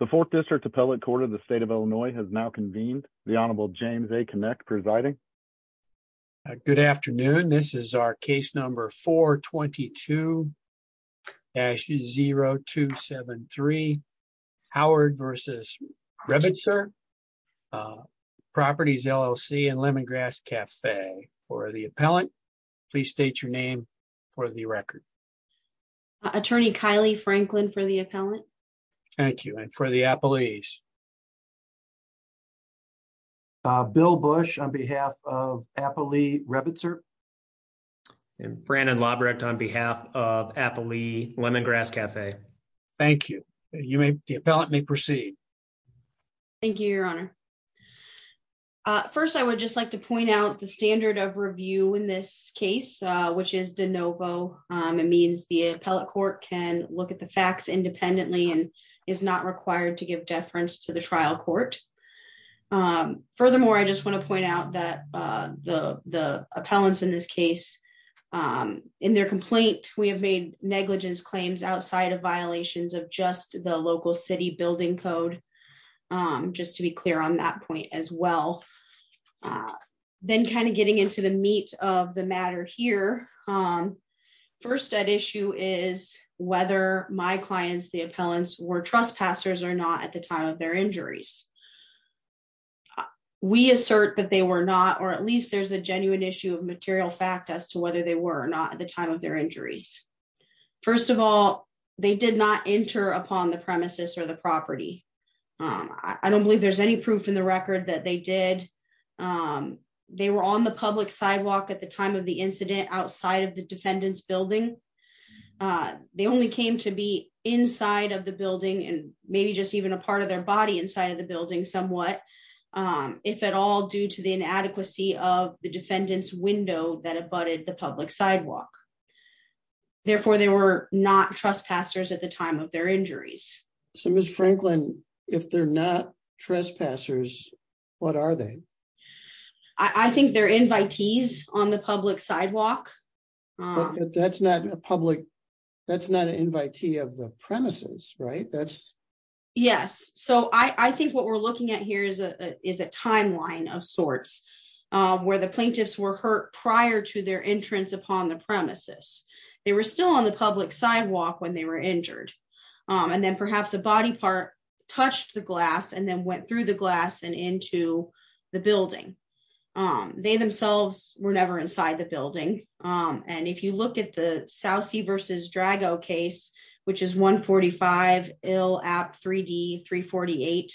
The Fourth District Appellate Court of the State of Illinois has now convened. The Honorable James A. Kinect presiding. Good afternoon. This is our case number 422-0273 Howard v. Rebitzer Properties, LLC and Lemongrass Cafe. For the appellant, please state your name for the record. Attorney Kylie Franklin for the appellant. Thank you. And for the appellees? Bill Bush on behalf of Appley Rebitzer. And Brandon Lobrecht on behalf of Appley Lemongrass Cafe. Thank you. You may, the appellant may proceed. Thank you, Your Honor. First, I would just like to point out the standard of review in this case, which is de novo. It means the appellate court can look at the facts independently and is not required to give deference to the trial court. Furthermore, I just want to point out that the appellants in this case, in their complaint, we have made negligence claims outside of violations of just the local city building code. Just to be clear on that point as well. Then kind of getting into the meat of the matter here. First issue is whether my clients, the appellants, were trespassers or not at the time of their injuries. We assert that they were not, or at least there's a genuine issue of material fact as to whether they were or not at the time of their injuries. First of all, they did not enter upon the premises or the property. I don't believe there's any proof in the record that they did. They were on the public sidewalk at the time of the incident outside of the defendant's building. They only came to be inside of the building and maybe just even a part of their body inside of the building somewhat. If at all due to the inadequacy of the defendant's window that abutted the public sidewalk. Therefore, they were not trespassers at the time of their injuries. So Ms. Franklin, if they're not trespassers, what are they? I think they're invitees on the public sidewalk. That's not a public, that's not an invitee of the premises, right? Yes, so I think what we're looking at here is a timeline of sorts where the plaintiffs were hurt prior to their entrance upon the premises. They were still on the public sidewalk when they were injured. And then perhaps a body part touched the glass and then went through the glass and into the building. They themselves were never inside the building. And if you look at the South Sea versus Drago case, which is 145 Ill App 3D 348,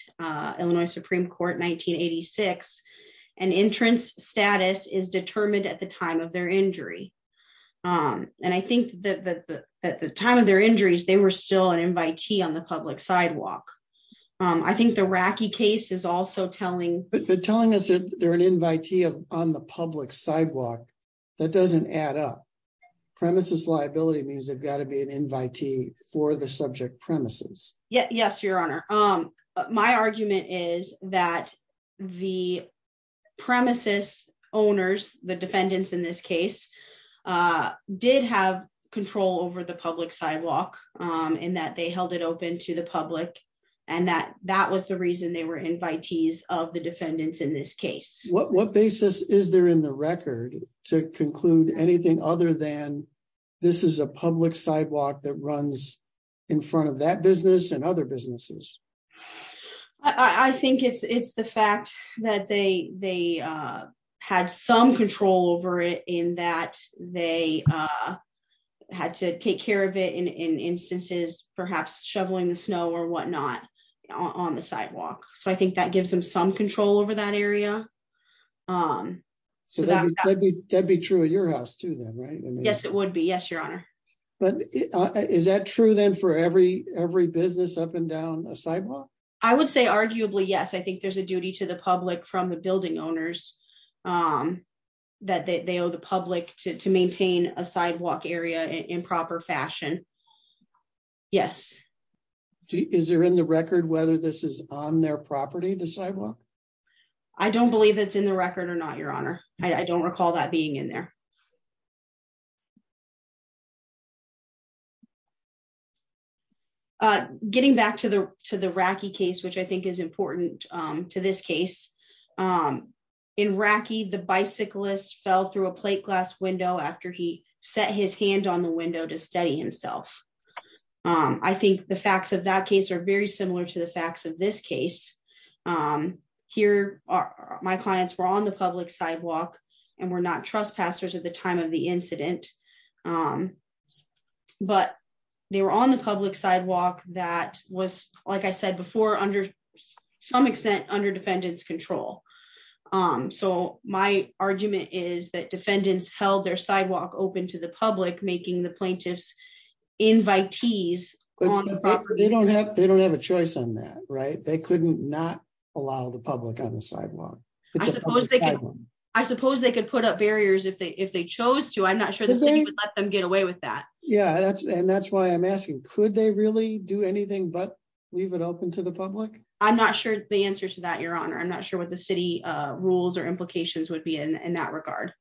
Illinois Supreme Court, 1986, an entrance status is determined at the time of their injury. And I think that at the time of their injuries, they were still an invitee on the public sidewalk. I think the Racky case is also telling. But telling us that they're an invitee on the public sidewalk, that doesn't add up. Premises liability means they've got to be an invitee for the subject premises. Yes, Your Honor. My argument is that the premises owners, the defendants in this case, did have control over the public sidewalk and that they held it open to the public and that that was the reason they were invitees of the defendants in this case. What basis is there in the record to conclude anything other than this is a public sidewalk that runs in front of that business and other businesses? I think it's the fact that they had some control over it in that they had to take care of it in instances, perhaps shoveling the snow or whatnot on the sidewalk. So I think that gives them some control over that area. So that would be true at your house to them, right? Yes, it would be. Yes, Your Honor. But is that true then for every every business up and down a sidewalk? I would say arguably, yes, I think there's a duty to the public from the building owners that they owe the public to maintain a sidewalk area in proper fashion. Yes. Is there in the record whether this is on their property, the sidewalk? I don't believe it's in the record or not, Your Honor. I don't recall that being in there. Getting back to the to the Racky case, which I think is important to this case in Racky, the bicyclist fell through a plate glass window after he set his hand on the window to study himself. I think the facts of that case are very similar to the facts of this case. Here are my clients were on the public sidewalk and were not trespassers at the time of the incident. But they were on the public sidewalk that was, like I said before, under some extent under defendants control. So my argument is that defendants held their sidewalk open to the public, making the plaintiffs invitees. They don't have they don't have a choice on that. Right. They could not allow the public on the sidewalk. I suppose they could put up barriers if they if they chose to. I'm not sure the city would let them get away with that. Yeah, that's and that's why I'm asking. Could they really do anything but leave it open to the public? I'm not sure the answer to that, Your Honor. I'm not sure what the city rules or implications would be in that regard.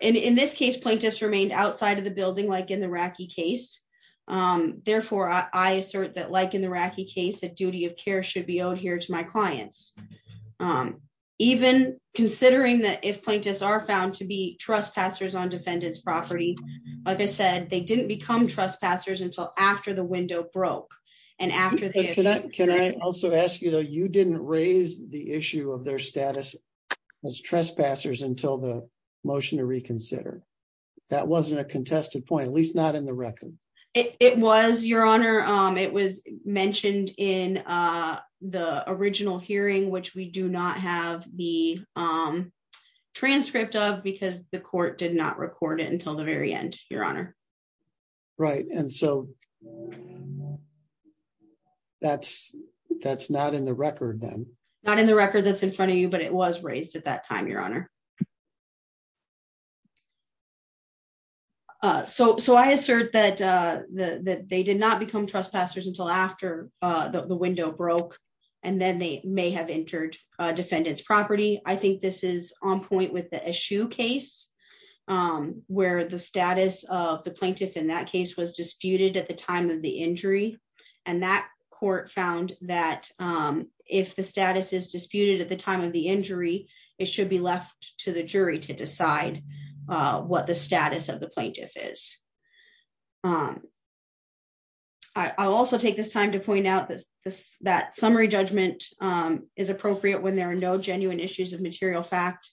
In this case, plaintiffs remained outside of the building, like in the Racky case. Therefore, I assert that, like in the Racky case, that duty of care should be owed here to my clients. Even considering that if plaintiffs are found to be trespassers on defendants property, like I said, they didn't become trespassers until after the window broke. And after that, can I also ask you, though, you didn't raise the issue of their status as trespassers until the motion to reconsider. That wasn't a contested point, at least not in the record. It was, Your Honor. It was mentioned in the original hearing, which we do not have the transcript of because the court did not record it until the very end. Your Honor. Right. And so that's that's not in the record, then not in the record that's in front of you, but it was raised at that time, Your Honor. So so I assert that they did not become trespassers until after the window broke and then they may have entered defendants property. I think this is on point with the Eshoo case where the status of the plaintiff in that case was disputed at the time of the injury. And that court found that if the status is disputed at the time of the injury, it should be left to the jury to decide what the status of the plaintiff is. I also take this time to point out that that summary judgment is appropriate when there are no genuine issues of material fact.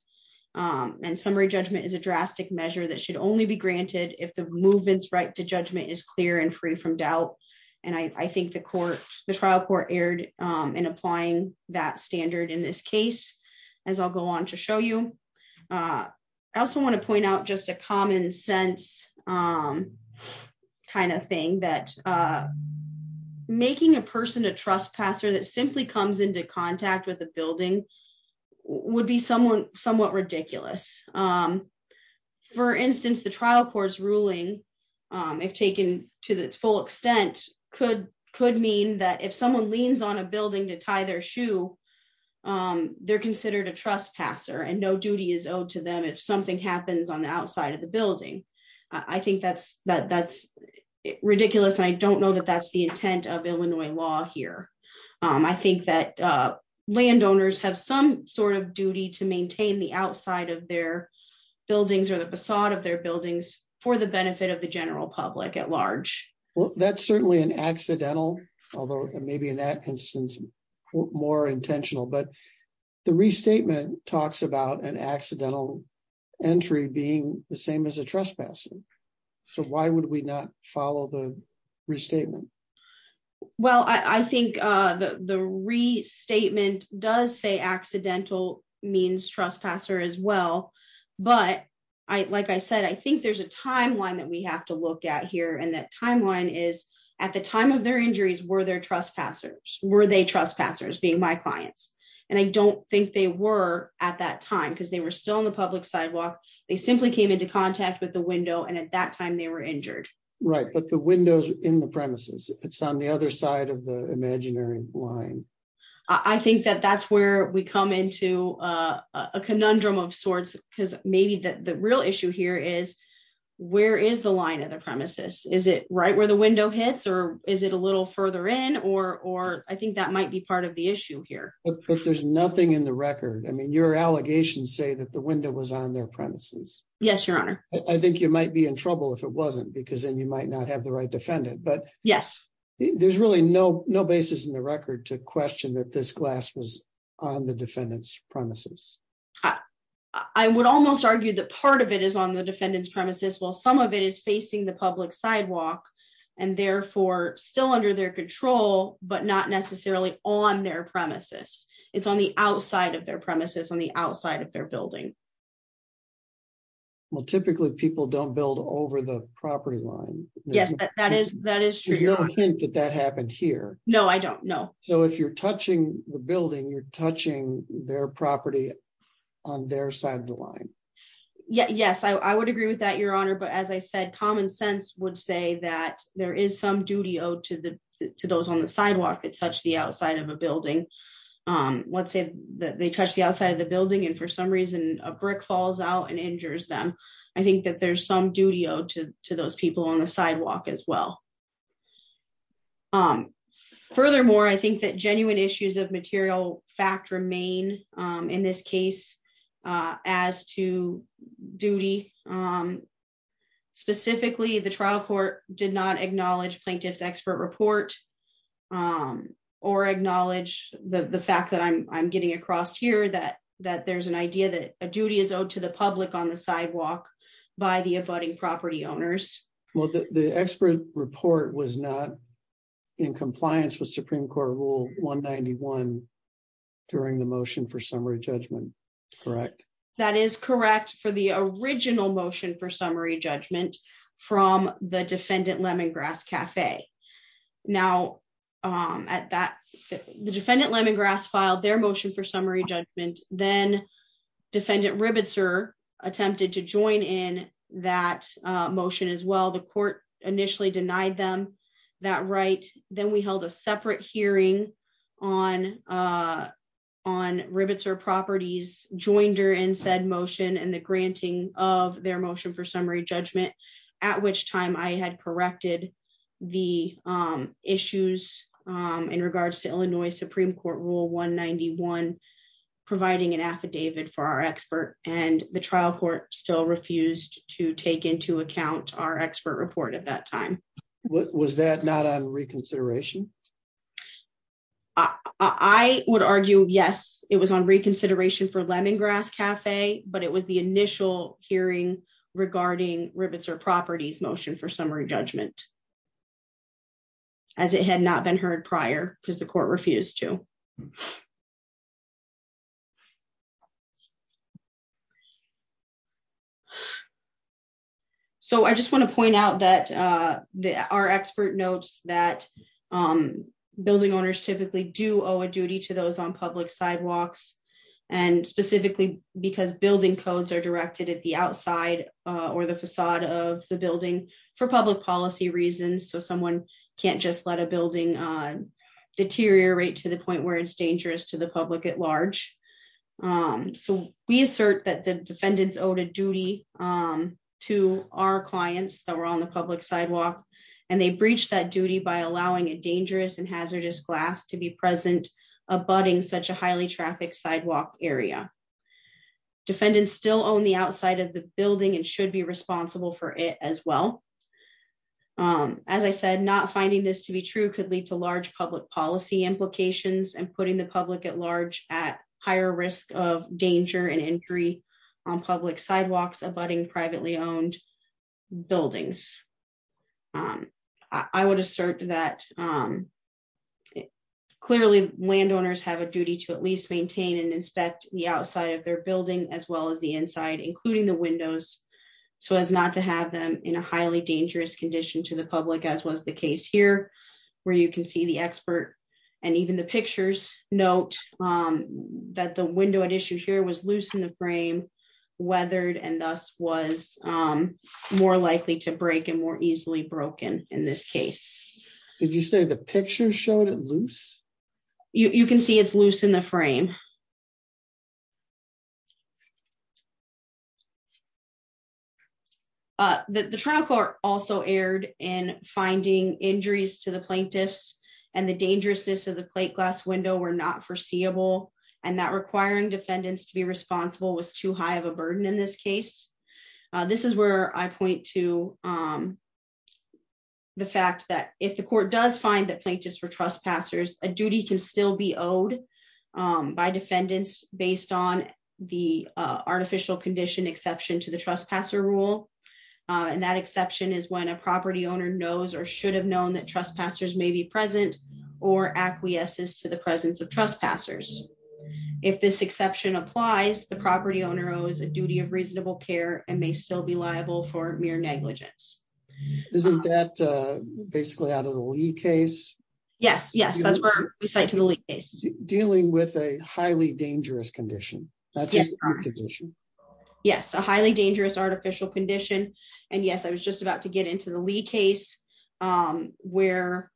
And summary judgment is a drastic measure that should only be granted if the movements right to judgment is clear and free from doubt. And I think the court, the trial court erred in applying that standard in this case, as I'll go on to show you. I also want to point out just a common sense kind of thing that making a person a trespasser that simply comes into contact with a building would be someone somewhat ridiculous. For instance, the trial court's ruling, if taken to its full extent, could could mean that if someone leans on a building to tie their shoe, they're considered a trespasser and no duty is owed to them if something happens on the outside of the building. I think that's that that's ridiculous. I don't know that that's the intent of Illinois law here. I think that landowners have some sort of duty to maintain the outside of their buildings or the facade of their buildings for the benefit of the general public at large. Well, that's certainly an accidental, although maybe in that instance, more intentional, but the restatement talks about an accidental entry being the same as a trespasser. So why would we not follow the restatement? Well, I think the restatement does say accidental means trespasser as well. But I like I said, I think there's a timeline that we have to look at here. And that timeline is at the time of their injuries. Were there trespassers? Were they trespassers being my clients? And I don't think they were at that time because they were still on the public sidewalk. They simply came into contact with the window. And at that time they were injured. Right. But the windows in the premises, it's on the other side of the imaginary line. I think that that's where we come into a conundrum of sorts, because maybe the real issue here is where is the line of the premises? Is it right where the window hits or is it a little further in or or I think that might be part of the issue here. But there's nothing in the record. I mean, your allegations say that the window was on their premises. Yes, your honor. I think you might be in trouble if it wasn't because then you might not have the right defendant. But yes, there's really no no basis in the record to question that this glass was on the defendant's premises. I would almost argue that part of it is on the defendant's premises. Well, some of it is facing the public sidewalk and therefore still under their control, but not necessarily on their premises. It's on the outside of their premises on the outside of their building. Well, typically people don't build over the property line. Yes, that is that is true. You don't think that that happened here? No, I don't know. So if you're touching the building, you're touching their property on their side of the line. Yes, I would agree with that, your honor. But as I said, common sense would say that there is some duty owed to the to those on the sidewalk that touch the outside of a building. Let's say that they touch the outside of the building and for some reason a brick falls out and injures them. I think that there's some duty owed to to those people on the sidewalk as well. Furthermore, I think that genuine issues of material fact remain in this case as to duty. Specifically, the trial court did not acknowledge plaintiff's expert report or acknowledge the fact that I'm getting across here that that there's an idea that a duty is owed to the public on the sidewalk by the abutting property owners. Well, the expert report was not in compliance with Supreme Court Rule one ninety one during the motion for summary judgment. Correct. That is correct. For the original motion for summary judgment from the defendant, Lemongrass Cafe. Now, at that, the defendant, Lemongrass filed their motion for summary judgment, then defendant Ribitzer attempted to join in that motion as well. The court initially denied them that right. Then we held a separate hearing on on Ribitzer properties, joined her and said motion and the granting of their motion for summary judgment, at which time I had corrected the issues in regards to Illinois What was that not on reconsideration. I would argue, yes, it was on reconsideration for Lemongrass Cafe, but it was the initial hearing regarding Ribitzer properties motion for summary judgment. As it had not been heard prior because the court refused to. Correct. So I just want to point out that our expert notes that building owners typically do owe a duty to those on public sidewalks, and specifically because building codes are directed at the outside, or the facade of the building for public policy reasons so someone can't just let a building deteriorate to the point where it's dangerous to the public at large. So, we assert that the defendants owed a duty to our clients that were on the public sidewalk, and they breach that duty by allowing a dangerous and hazardous glass to be present abutting such a highly traffic sidewalk area. Defendants still own the outside of the building and should be responsible for it as well. As I said not finding this to be true could lead to large public policy implications and putting the public at large, at higher risk of danger and injury on public sidewalks abutting privately owned buildings. I would assert that clearly landowners have a duty to at least maintain and inspect the outside of their building as well as the inside including the windows, so as not to have them in a highly dangerous condition to the public as was the case here, where broken in this case. Did you say the picture showed it loose. You can see it's loose in the frame. The trial court also aired in finding injuries to the plaintiffs, and the dangerousness of the plate glass window were not foreseeable, and that requiring defendants to be responsible was too high of a burden in this case. This is where I point to the fact that if the court does find that plaintiffs for trespassers, a duty can still be owed by defendants, based on the artificial condition exception to the trespasser rule. And that exception is when a property owner knows or should have known that trespassers may be present or acquiesces to the presence of trespassers. If this exception applies the property owner owes a duty of reasonable care and may still be liable for mere negligence. Isn't that basically out of the lead case. Yes, yes, that's where we say to the lead case, dealing with a highly dangerous condition. Yes, a highly dangerous artificial condition. And yes, I was just about to get into the lead case where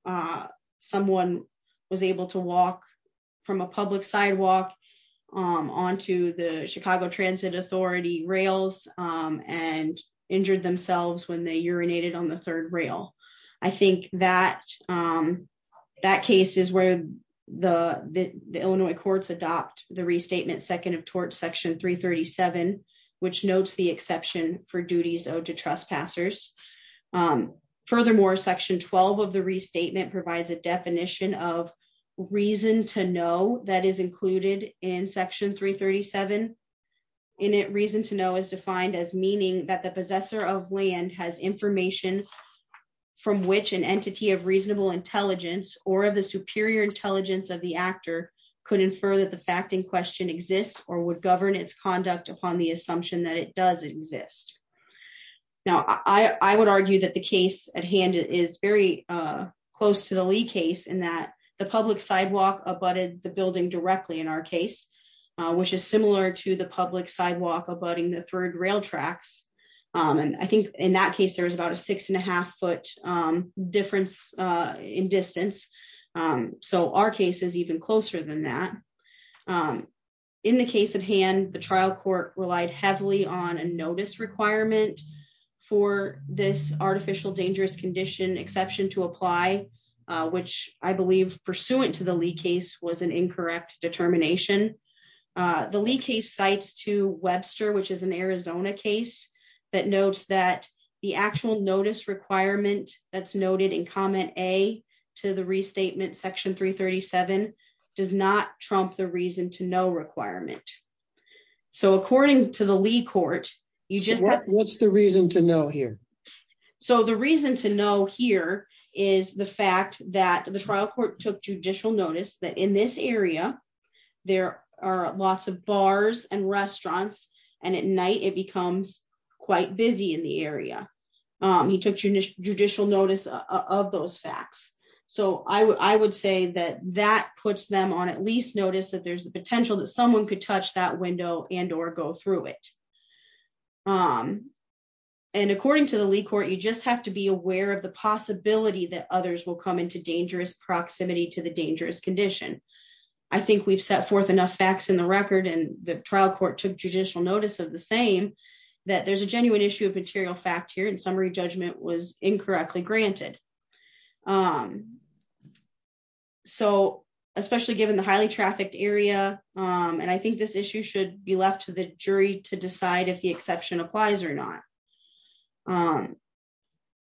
someone was able to walk from a public sidewalk on to the Chicago Transit Authority rails and injured themselves when they urinated on the third rail. I think that that case is where the Illinois courts adopt the restatement second of tort section 337, which notes the exception for duties owed to trespassers. Furthermore section 12 of the restatement provides a definition of reason to know that is included in section 337 in it reason to know is defined as meaning that the possessor of land has information from which an entity of reasonable intelligence, or the superior intelligence of the actor could infer that the fact in question exists or would govern its conduct upon the assumption that it does exist. Now I would argue that the case at hand is very close to the lead case in that the public sidewalk abutted the building directly in our case, which is similar to the public sidewalk abutting the third rail tracks. And I think in that case there was about a six and a half foot difference in distance. So our case is even closer than that. In the case of hand the trial court relied heavily on a notice requirement for this artificial dangerous condition exception to apply, which I believe pursuant to the lead case was an incorrect determination. The lead case sites to Webster which is an Arizona case that notes that the actual notice requirement that's noted in comment a to the restatement section 337 does not trump the reason to know requirement. So according to the league court, you just what's the reason to know here. So the reason to know here is the fact that the trial court took judicial notice that in this area. There are lots of bars and restaurants, and at night it becomes quite busy in the area. He took judicial judicial notice of those facts. So I would say that that puts them on at least notice that there's the potential that someone could touch that window and or go through it. And according to the league court, you just have to be aware of the possibility that others will come into dangerous proximity to the dangerous condition. I think we've set forth enough facts in the record and the trial court took judicial notice of the same, that there's a genuine issue of material fact here and summary judgment was incorrectly granted. So, especially given the highly trafficked area, and I think this issue should be left to the jury to decide if the exception applies or not. I'm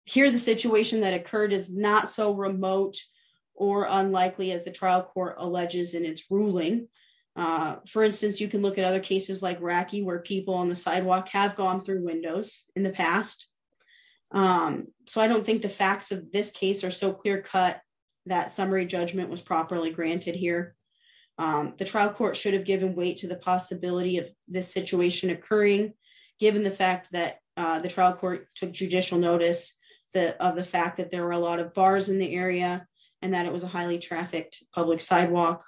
here the situation that occurred is not so remote or unlikely as the trial court alleges in its ruling. For instance, you can look at other cases like rocky where people on the sidewalk have gone through windows in the past. So I don't think the facts of this case are so clear cut that summary judgment was properly granted here. The trial court should have given weight to the possibility of this situation occurring, given the fact that the trial court took judicial notice that of the fact that there were a lot of bars in the area, and that it was a highly trafficked public sidewalk.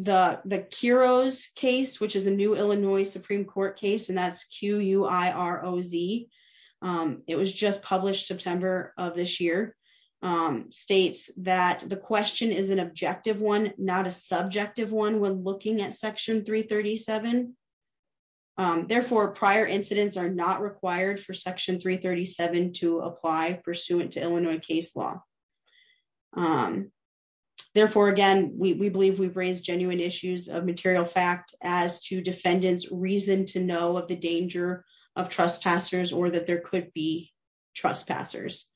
The, the heroes case which is a new Illinois Supreme Court case and that's q u i r o z. It was just published September of this year states that the question is an objective one, not a subjective one when looking at section 337. Therefore, prior incidents are not required for section 337 to apply pursuant to Illinois case law. Therefore, again, we believe we've raised genuine issues of material fact as to defendants reason to know of the danger of trespassers or that there could be trespassers,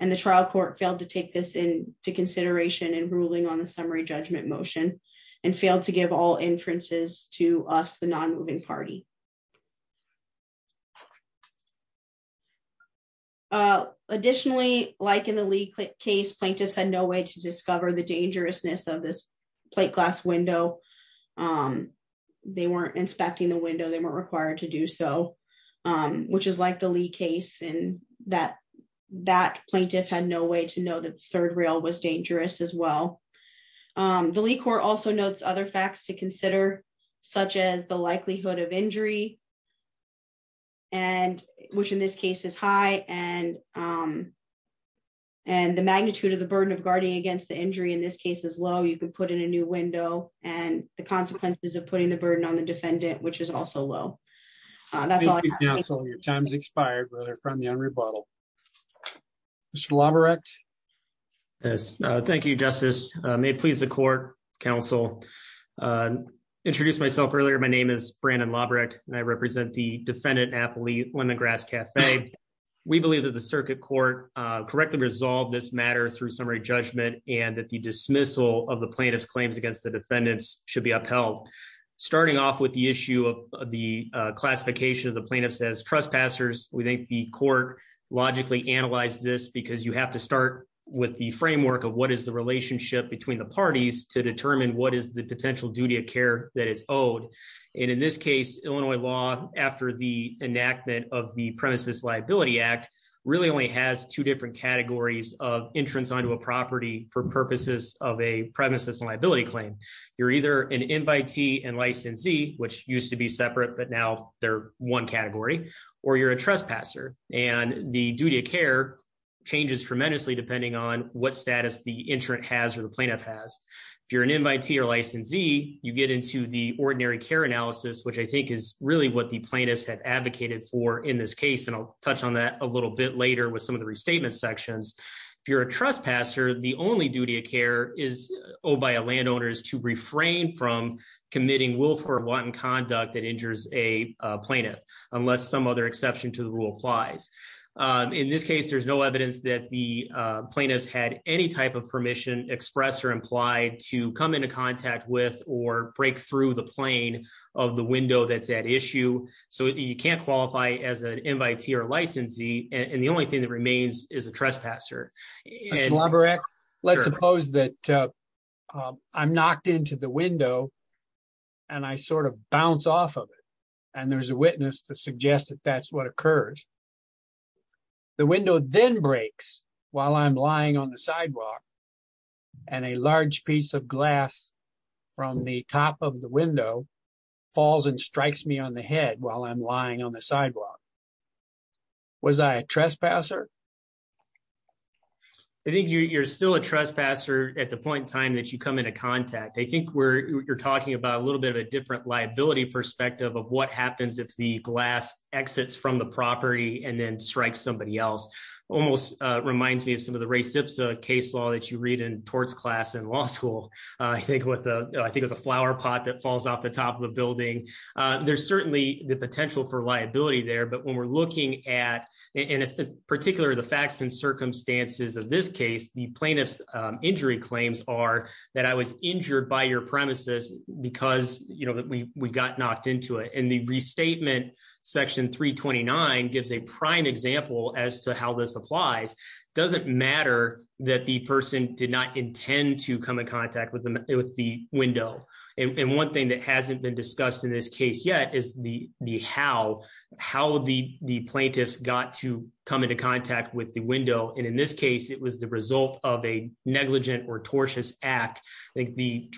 and the trial court failed to take this into consideration and ruling on the summary judgment motion and failed to give all inferences to us the non moving party. Additionally, like in the lead case plaintiffs had no way to discover the dangerousness of this plate glass window. They weren't inspecting the window they were required to do so, which is like the lead case and that that plaintiff had no way to know that third rail was dangerous as well. The lead court also notes other facts to consider, such as the likelihood of injury, and which in this case is high and. And the magnitude of the burden of guarding against the injury in this case as well you can put in a new window, and the consequences of putting the burden on the defendant which is also low. That's all your time's expired whether from young rebuttal. Lobber X. Yes. Thank you, Justice, may please the court counsel. Introduce myself earlier my name is Brandon Loverett, and I represent the defendant happily when the grass cafe. We believe that the circuit court correctly resolve this matter through summary judgment, and that the dismissal of the plaintiffs claims against the defendants should be upheld. Starting off with the issue of the classification of the plaintiff says trespassers, we think the court logically analyze this because you have to start with the framework of what is the relationship between the parties to determine what is the potential which used to be separate but now they're one category, or you're a trespasser, and the duty of care changes tremendously depending on what status the insurance has or the plaintiff has. If you're an invitee or licensee, you get into the ordinary care analysis which I think is really what the plaintiffs have advocated for in this case and I'll touch on that a little bit later with some of the restatement sections. If you're a trespasser, the only duty of care is owed by a landowners to refrain from committing willful or wanton conduct that injures a plaintiff, unless some other exception to the rule applies. In this case, there's no evidence that the plaintiffs had any type of permission expressed or implied to come into contact with or break through the plane of the window that's at issue. So you can't qualify as an invitee or licensee, and the only thing that remains is a trespasser. Let's suppose that I'm knocked into the window, and I sort of bounce off of it, and there's a witness to suggest that that's what occurs. The window then breaks, while I'm lying on the sidewalk, and a large piece of glass from the top of the window falls and strikes me on the head while I'm lying on the sidewalk. Was I a trespasser? I think you're still a trespasser at the point in time that you come into contact. I think you're talking about a little bit of a different liability perspective of what happens if the glass exits from the property and then strikes somebody else. Almost reminds me of some of the Ray Sipsa case law that you read in torts class in law school. I think it was a flower pot that falls off the top of the building. There's certainly the potential for liability there, but when we're looking at, particularly the facts and circumstances of this case, the plaintiff's injury claims are that I was injured by your premises because we got knocked into it. And the restatement section 329 gives a prime example as to how this applies. It doesn't matter that the person did not intend to come in contact with the window. And one thing that hasn't been discussed in this case yet is the how, how the plaintiffs got to come into contact with the window. And in this case, it was the result of a negligent or tortious act. I think the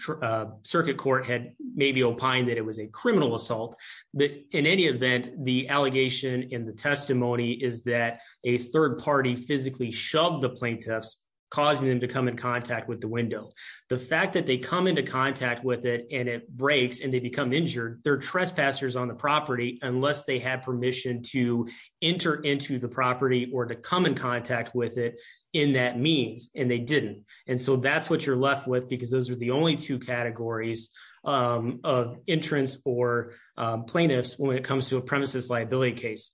circuit court had maybe opined that it was a criminal assault, but in any event, the allegation in the testimony is that a third party physically shoved the plaintiffs, causing them to come in contact with the window. The fact that they come into contact with it and it breaks and they become injured their trespassers on the property, unless they have permission to enter into the property or to come in contact with it in that means, and they didn't. And so that's what you're left with because those are the only two categories of entrance or plaintiffs when it comes to a premises liability case.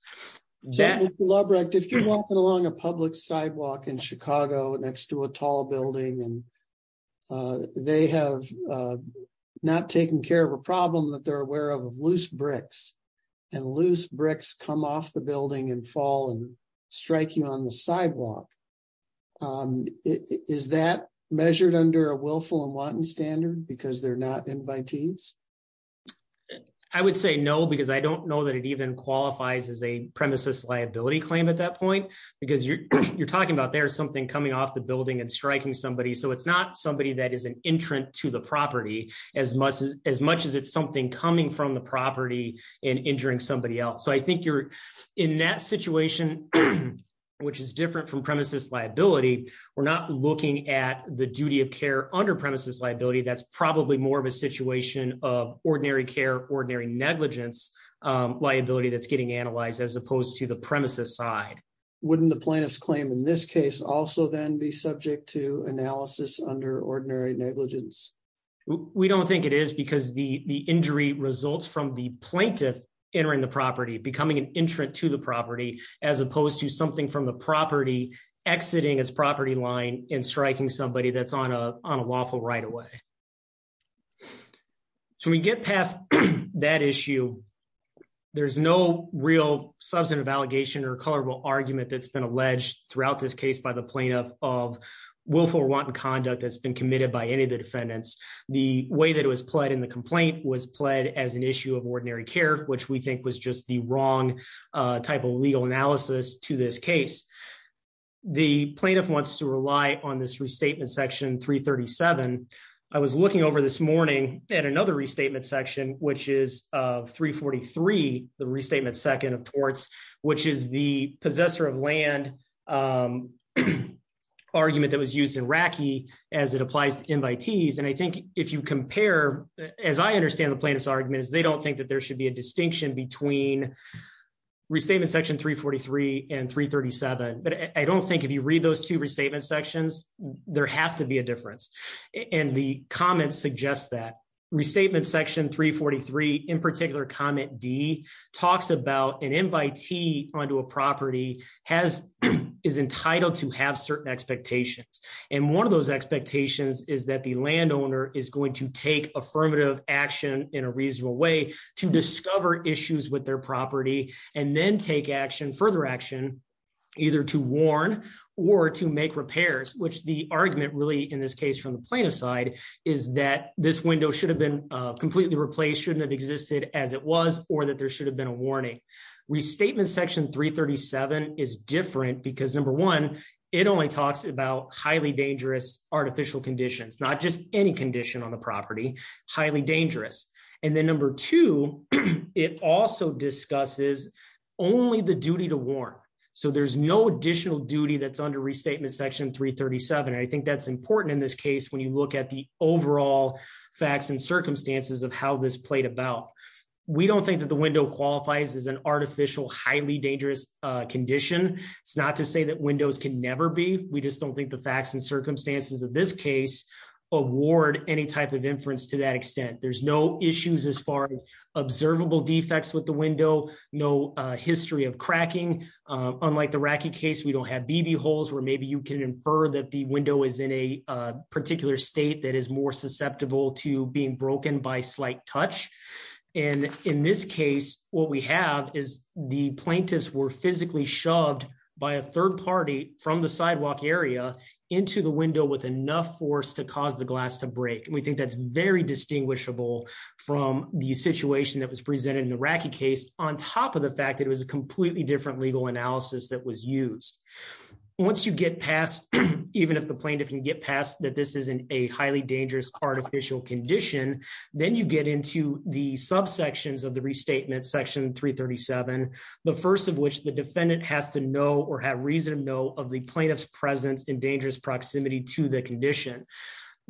If you're walking along a public sidewalk in Chicago next to a tall building and they have not taken care of a problem that they're aware of loose bricks and loose bricks come off the building and fall and strike you on the sidewalk. Is that measured under a willful and wanton standard because they're not invitees? I would say no because I don't know that it even qualifies as a premises liability claim at that point, because you're talking about there's something coming off the building and striking somebody so it's not somebody that is an entrant to the property, as much as ordinary negligence liability that's getting analyzed as opposed to the premises side. Wouldn't the plaintiff's claim in this case also then be subject to analysis under ordinary negligence? We don't think it is because the injury results from the plaintiff entering the property becoming an entrant to the property, as opposed to something from the property, exiting its property line and striking somebody that's on a lawful right away. When we get past that issue, there's no real substantive allegation or colorable argument that's been alleged throughout this case by the plaintiff of willful or wanton conduct that's been committed by any of the defendants. The way that it was pled in the complaint was pled as an issue of ordinary care, which we think was just the wrong type of legal analysis to this case. The plaintiff wants to rely on this restatement section 337. I was looking over this morning at another restatement section, which is 343, the restatement second of torts, which is the possessor of land argument that was used in RACI as it applies to invitees. And I think if you compare, as I understand the plaintiff's argument is they don't think that there should be a distinction between restatement section 343 and 337. But I don't think if you read those two restatement sections, there has to be a difference. And the comments suggest that. Restatement section 343, in particular comment D, talks about an invitee onto a property is entitled to have certain expectations. And one of those expectations is that the landowner is going to take affirmative action in a reasonable way to discover issues with their property, and then take action further action, either to warn or to make repairs, which the argument really in this case from the plaintiff's side is that this window should have been completely replaced, shouldn't have existed as it was, or that there should have been a warning. Restatement section 337 is different because number one, it only talks about highly dangerous artificial conditions, not just any condition on the property, highly dangerous. And then number two, it also discusses only the duty to warn. So there's no additional duty that's under restatement section 337 I think that's important in this case when you look at the overall facts and circumstances of how this played about. We don't think that the window qualifies as an artificial highly dangerous condition. It's not to say that windows can never be, we just don't think the facts and circumstances of this case award any type of inference to that extent. There's no issues as far as observable defects with the window, no history of cracking. Unlike the Racky case we don't have BB holes where maybe you can infer that the window is in a particular state that is more susceptible to being broken by slight touch. And in this case, what we have is the plaintiffs were physically shoved by a third party from the sidewalk area into the window with enough force to cause the glass to break and we think that's very distinguishable from the situation that was presented in the Racky case, on top of the fact that it was a completely different legal analysis that was used. Once you get past. Even if the plaintiff can get past that this isn't a highly dangerous artificial condition, then you get into the sub sections of the restatement section 337, the first of which the defendant has to know or have reason to know of the plaintiff's presence in dangerous proximity to the condition.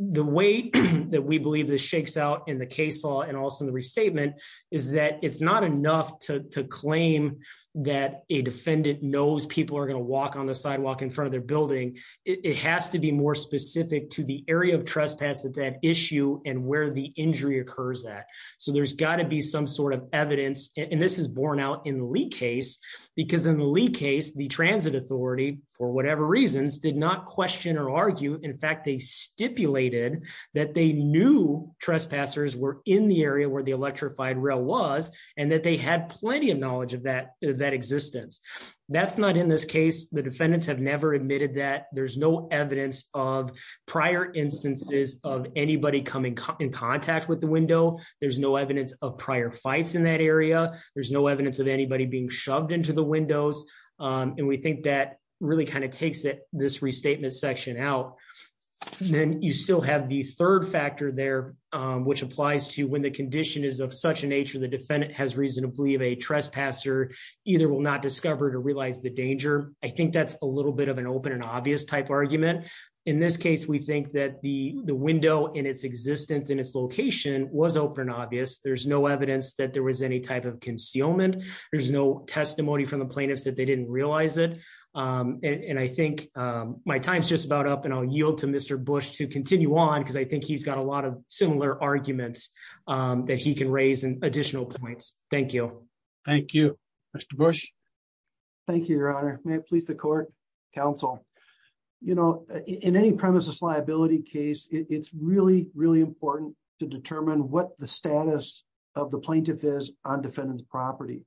The way that we believe this shakes out in the case law and also the restatement is that it's not enough to claim that a defendant knows people are going to walk on the sidewalk in front of their building, it has to be more specific to the area of trespass that they knew trespassers were in the area where the electrified rail was, and that they had plenty of knowledge of that, that existence. That's not in this case, the defendants have never admitted that there's no evidence of prior instances of anybody coming in contact with the window. There's no evidence of prior fights in that area. There's no evidence of anybody being shoved into the windows. And we think that really kind of takes it this restatement section out. Then you still have the third factor there, which applies to when the condition is of such a nature the defendant has reason to believe a trespasser, either will not discover to realize the danger. I think that's a little bit of an open and obvious type argument. In this case, we think that the window in its existence in its location was open obvious there's no evidence that there was any type of concealment. There's no testimony from the plaintiffs that they didn't realize it. And I think my time's just about up and I'll yield to Mr. Bush to continue on because I think he's got a lot of similar arguments that he can raise and additional points. Thank you. Thank you. Mr. Bush. Thank you, Your Honor, please the court counsel. You know, in any premises liability case, it's really, really important to determine what the status of the plaintiff is on defendants property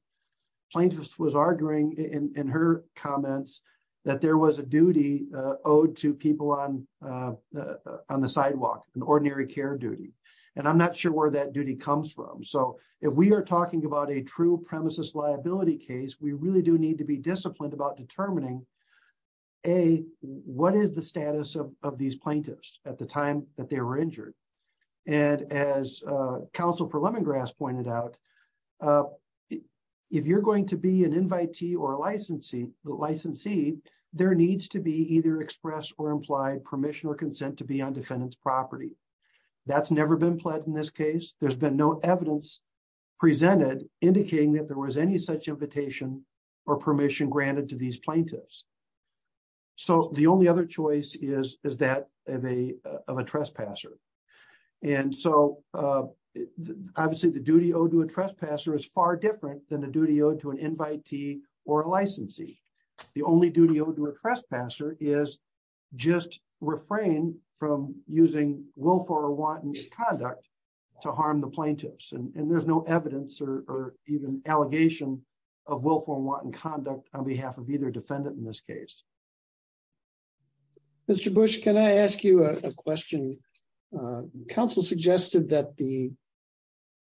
plaintiffs was arguing in her comments that there was a duty owed to people on on the sidewalk, an ordinary care duty. And I'm not sure where that duty comes from. So, if we are talking about a true premises liability case we really do need to be disciplined about determining a, what is the status of these plaintiffs at the time that they were injured. And as Council for lemongrass pointed out, if you're going to be an invitee or licensee, the licensee, there needs to be either express or implied permission or consent to be on defendants property. That's never been pledged in this case, there's been no evidence presented, indicating that there was any such invitation or permission granted to these plaintiffs. So the only other choice is, is that of a, of a trespasser. And so, obviously the duty owed to a trespasser is far different than the duty owed to an invitee or licensee. The only duty owed to a trespasser is just refrain from using willful or wanton conduct to harm the plaintiffs and there's no evidence or even allegation of willful and wanton conduct on behalf of either defendant in this case. Mr. Bush, can I ask you a question. Council suggested that the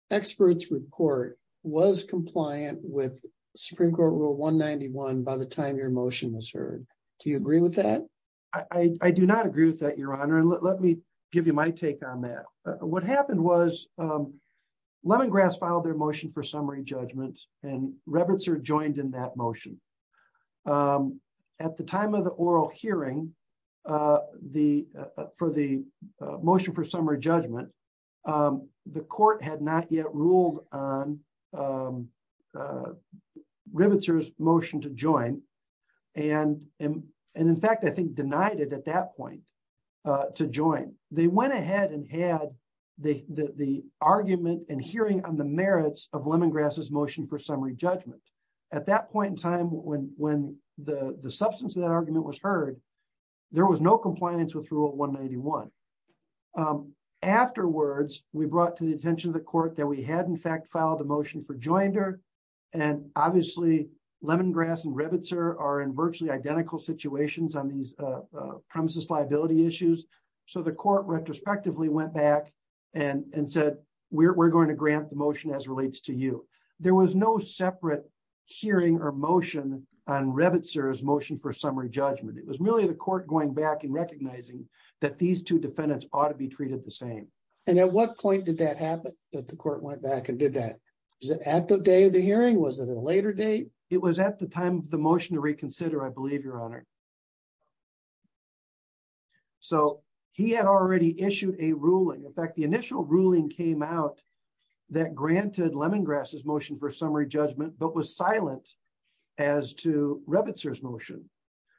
experts report was compliant with Supreme Court rule 191 by the time your motion was heard. Do you agree with that. I do not agree with that your honor and let me give you my take on that. What happened was lemongrass filed their motion for summary judgment, and Roberts are joined in that motion. At the time of the oral hearing. The for the motion for summary judgment. The court had not yet ruled on riveters motion to join. And, and, and in fact I think denied it at that point to join, they went ahead and had the, the, the argument and hearing on the merits of lemongrass motion for summary judgment. At that point in time, when, when the substance of that argument was heard. There was no compliance with rule 191. Afterwards, we brought to the attention of the court that we had in fact filed a motion for joined her. And obviously, lemongrass and rabbits are in virtually identical situations on these premises liability issues. So the court retrospectively went back and said, we're going to grant the motion as relates to you. There was no separate hearing or motion on rabbits or his motion for summary judgment it was really the court going back and recognizing that these two defendants ought to be treated the same. And at what point did that happen that the court went back and did that at the day of the hearing was at a later date, it was at the time of the motion to reconsider I believe your honor. So, he had already issued a ruling in fact the initial ruling came out that granted lemongrass motion for summary judgment but was silent. As to rabbits or his motion.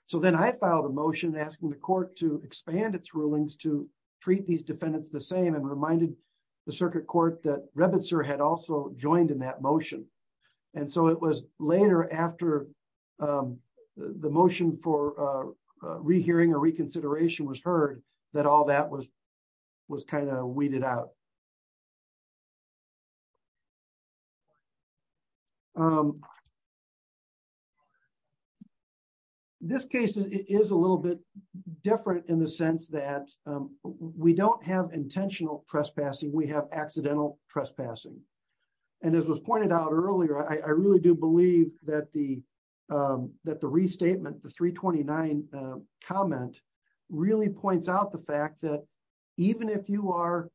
So then I filed a motion asking the court to expand its rulings to treat these defendants the same and reminded the circuit court that rabbits are had also joined in that motion. And so it was later after the motion for rehearing or reconsideration was heard that all that was was kind of weeded out. This case is a little bit different in the sense that we don't have intentional trespassing we have accidental trespassing. And as was pointed out earlier I really do believe that the, that the restatement the 329 comment really points out the fact that even if you are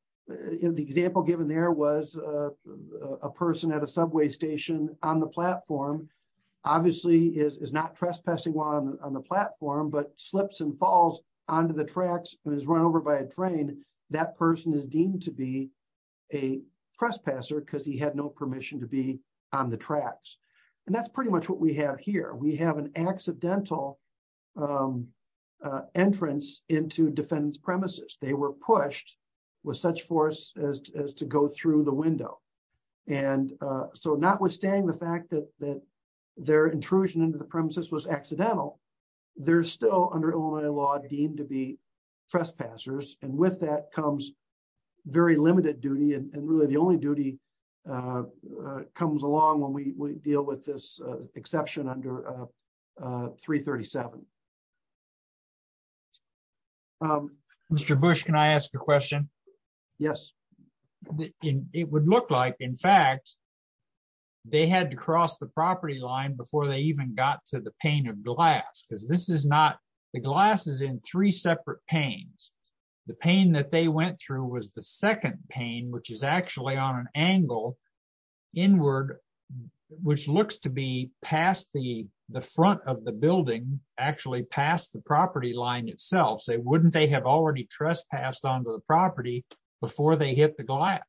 in the example given there was a person at a subway station on the platform, obviously is not trespassing on the platform but slips and falls onto the tracks is run over by a train. That person is deemed to be a trespasser because he had no permission to be on the tracks. And that's pretty much what we have here we have an accidental entrance into defendants premises, they were pushed with such force as to go through the window. And so notwithstanding the fact that that their intrusion into the premises was accidental. There's still under Illinois law deemed to be trespassers, and with that comes very limited duty and really the only duty comes along when we deal with this exception under 337. Mr Bush Can I ask a question. Yes. It would look like in fact they had to cross the property line before they even got to the pain of glass because this is not the glasses in three separate pains, the pain that they went through was the second pain which is actually on an angle inward, which looks to be past the, the front of the building, actually passed the property line itself so wouldn't they have already trespassed onto the property before they hit the glass.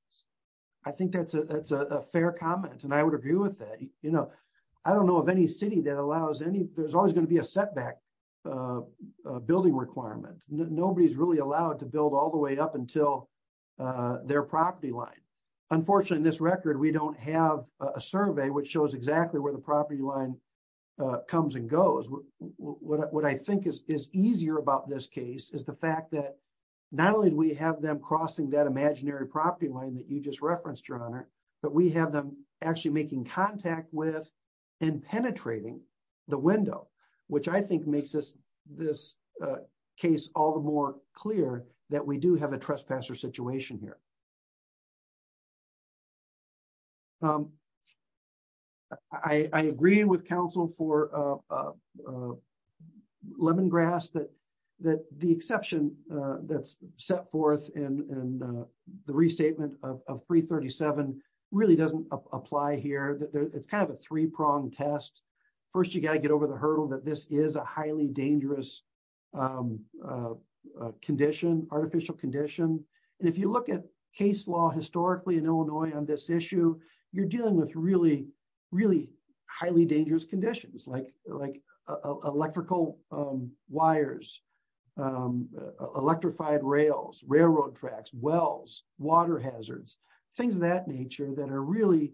I think that's a fair comment and I would agree with that, you know, I don't know of any city that allows any, there's always going to be a setback building requirement, nobody's really allowed to build all the way up until their property line. Unfortunately, this record we don't have a survey which shows exactly where the property line comes and goes. What I think is easier about this case is the fact that not only do we have them crossing that imaginary property line that you just referenced your honor, but we have them actually making contact with and penetrating the window, which I think makes this, this case, all the more clear that we do have a trespasser situation here. I agree with Council for lemongrass that, that the exception that's set forth in the restatement of 337 really doesn't apply here that it's kind of a three pronged test. First, you got to get over the hurdle that this is a highly dangerous condition, artificial condition. And if you look at case law historically in Illinois on this issue, you're dealing with really, really highly dangerous conditions like like electrical wires, electrified rails railroad tracks wells, water hazards, things of that nature that are really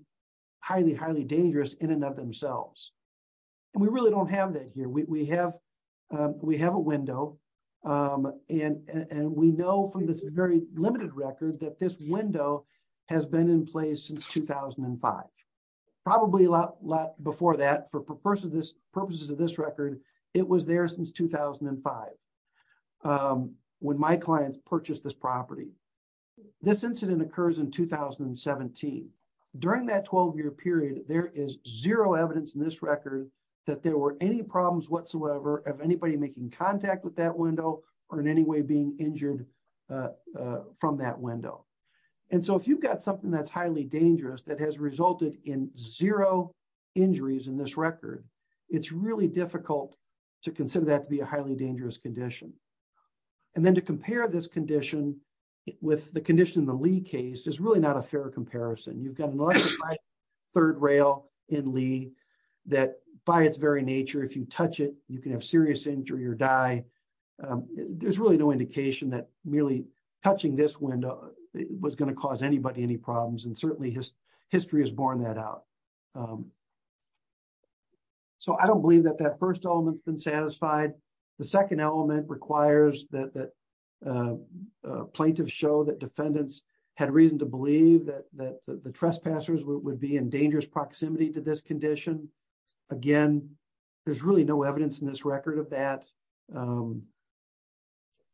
highly highly dangerous in and of themselves. And we really don't have that here we have, we have a window. And, and we know from this very limited record that this window has been in place since 2005, probably a lot, lot before that for purposes of this purposes of this record. It was there since 2005. When my clients purchase this property. This incident occurs in 2017. During that 12 year period, there is zero evidence in this record that there were any problems whatsoever of anybody making contact with that window, or in any way being injured from that window. And so if you've got something that's highly dangerous that has resulted in zero injuries in this record. It's really difficult to consider that to be a highly dangerous condition. And then to compare this condition with the condition the Lee case is really not a fair comparison you've got a third rail in Lee that by its very nature if you touch it, you can have serious injury or die. There's really no indication that merely touching this window was going to cause anybody any problems and certainly his history has borne that out. So I don't believe that that first element been satisfied. The second element requires that that plaintiff show that defendants had reason to believe that that the trespassers would be in dangerous proximity to this condition. Again, there's really no evidence in this record of that.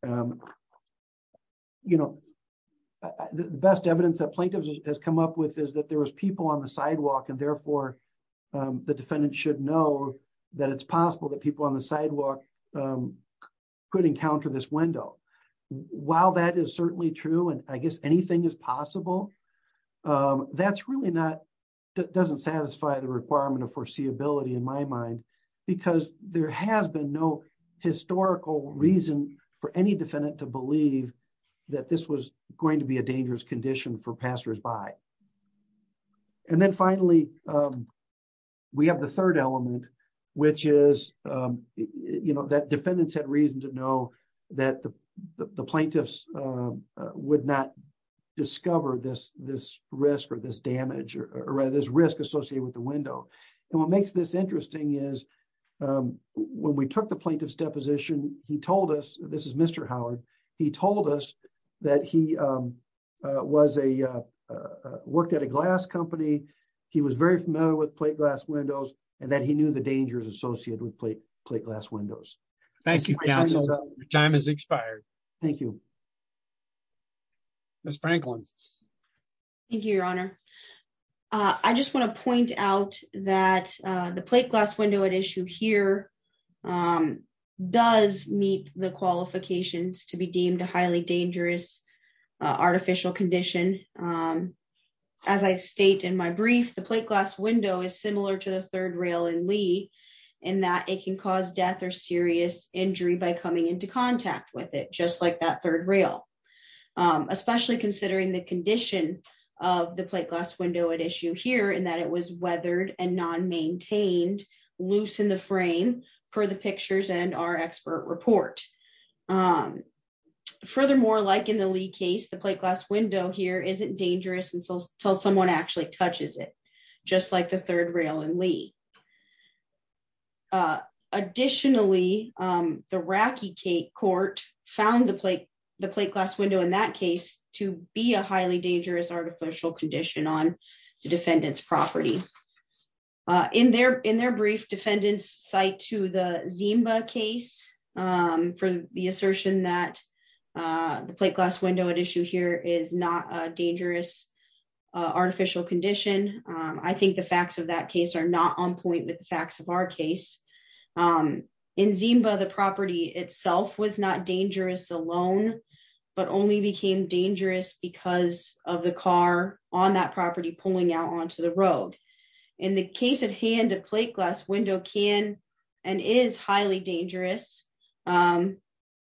You know, the best evidence that plaintiffs has come up with is that there was people on the sidewalk and therefore the defendant should know that it's possible that people on the sidewalk, could encounter this window. While that is certainly true and I guess anything is possible. That's really not doesn't satisfy the requirement of foreseeability in my mind, because there has been no historical reason for any defendant to believe that this was going to be a dangerous condition for passersby. And then finally, we have the third element, which is, you know that defendants had reason to know that the plaintiffs would not discover this. This risk or this damage or rather this risk associated with the window. And what makes this interesting is when we took the plaintiff's deposition, he told us, this is Mr. Howard, he told us that he was a worked at a glass company. He was very familiar with plate glass windows, and that he knew the dangers associated with plate plate glass windows. Thank you. Time has expired. Thank you. Miss Franklin. Thank you, Your Honor. I just want to point out that the plate glass window at issue here does meet the qualifications to be deemed a highly dangerous artificial condition. As I state in my brief the plate glass window is similar to the third rail and Lee, and that it can cause death or serious injury by coming into contact with it just like that third rail, especially considering the condition of the plate glass window at issue here and that it was weathered and non maintained loose in the frame for the pictures and our expert report. Furthermore, like in the lead case the plate glass window here isn't dangerous until someone actually touches it, just like the third rail and Lee. Additionally, the rocky cake court found the plate, the plate glass window in that case to be a highly dangerous artificial condition on the defendants property in their, in their brief defendants site to the Zimba case. For the assertion that the plate glass window at issue here is not dangerous artificial condition. I think the facts of that case are not on point with the facts of our case in Zimba the property itself was not dangerous alone, but only became dangerous because of the car on that property pulling out onto the road. In the case at hand a plate glass window can and is highly dangerous.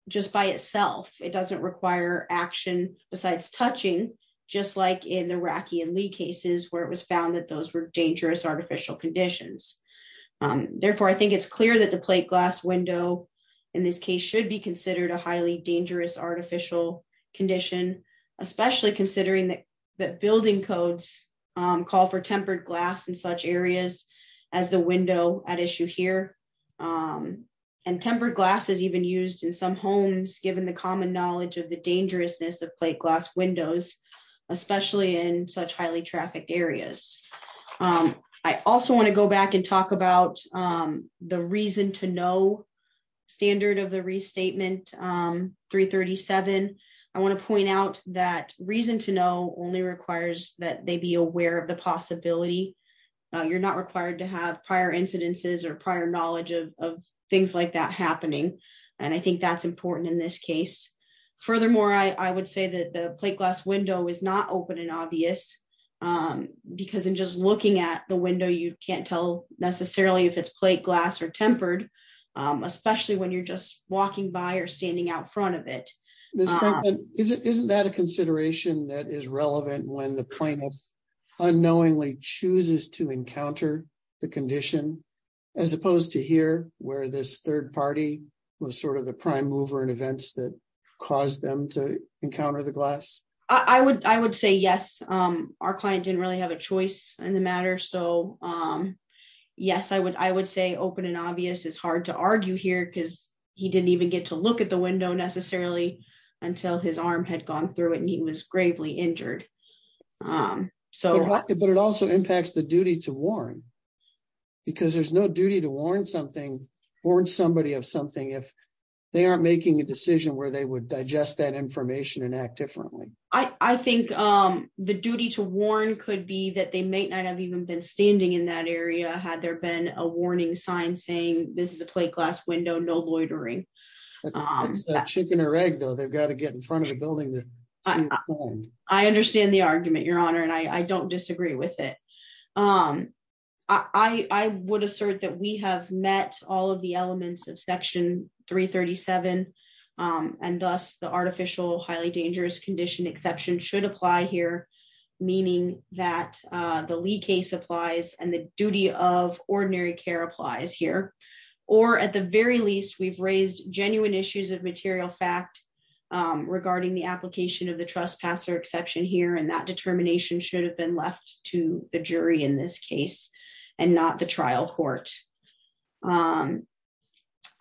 Just by itself, it doesn't require action, besides touching, just like in the rocky and Lee cases where it was found that those were dangerous artificial conditions. Therefore, I think it's clear that the plate glass window. In this case should be considered a highly dangerous artificial condition, especially considering that that building codes call for tempered glass in such areas as the window at issue here. And tempered glass is even used in some homes, given the common knowledge of the dangerousness of plate glass windows, especially in such highly trafficked areas. I also want to go back and talk about the reason to know standard of the restatement 337, I want to point out that reason to know only requires that they be aware of the possibility. You're not required to have prior incidences or prior knowledge of things like that happening. And I think that's important in this case. Furthermore, I would say that the plate glass window is not open and obvious. Because in just looking at the window you can't tell necessarily if it's plate glass or tempered, especially when you're just walking by or standing out front of it. Isn't that a consideration that is relevant when the plaintiff unknowingly chooses to encounter the condition, as opposed to here, where this third party was sort of the prime mover and events that caused them to encounter the glass. I would, I would say yes, our client didn't really have a choice in the matter. So, um, yes, I would I would say open and obvious is hard to argue here because he didn't even get to look at the window necessarily until his arm had gone through it and he was gravely injured. So, but it also impacts the duty to warn because there's no duty to warn something or somebody have something if they aren't making a decision where they would digest that information and act differently. I think the duty to warn could be that they may not have even been standing in that area had there been a warning sign saying this is a plate glass window no loitering chicken or egg though they've got to get in front of the building. I understand the argument, Your Honor, and I don't disagree with it. Um, I would assert that we have met all of the elements of Section 337, and thus the artificial highly dangerous condition exception should apply here, meaning that the Lee case applies and the duty of ordinary care applies here. Or at the very least we've raised genuine issues of material fact regarding the application of the trespasser exception here and that determination should have been left to the jury in this case, and not the trial court. Um,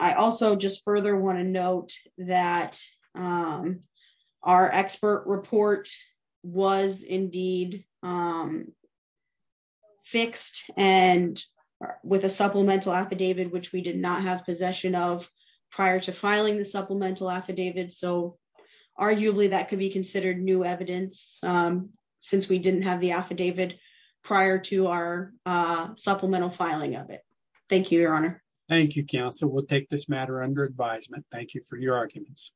I also just further want to note that our expert report was indeed fixed and with a supplemental affidavit which we did not have possession of prior to filing the supplemental affidavit so arguably that could be considered new evidence, since we didn't have the affidavit prior to our supplemental filing of it. Thank you, Your Honor. Thank you, counsel will take this matter under advisement. Thank you for your arguments.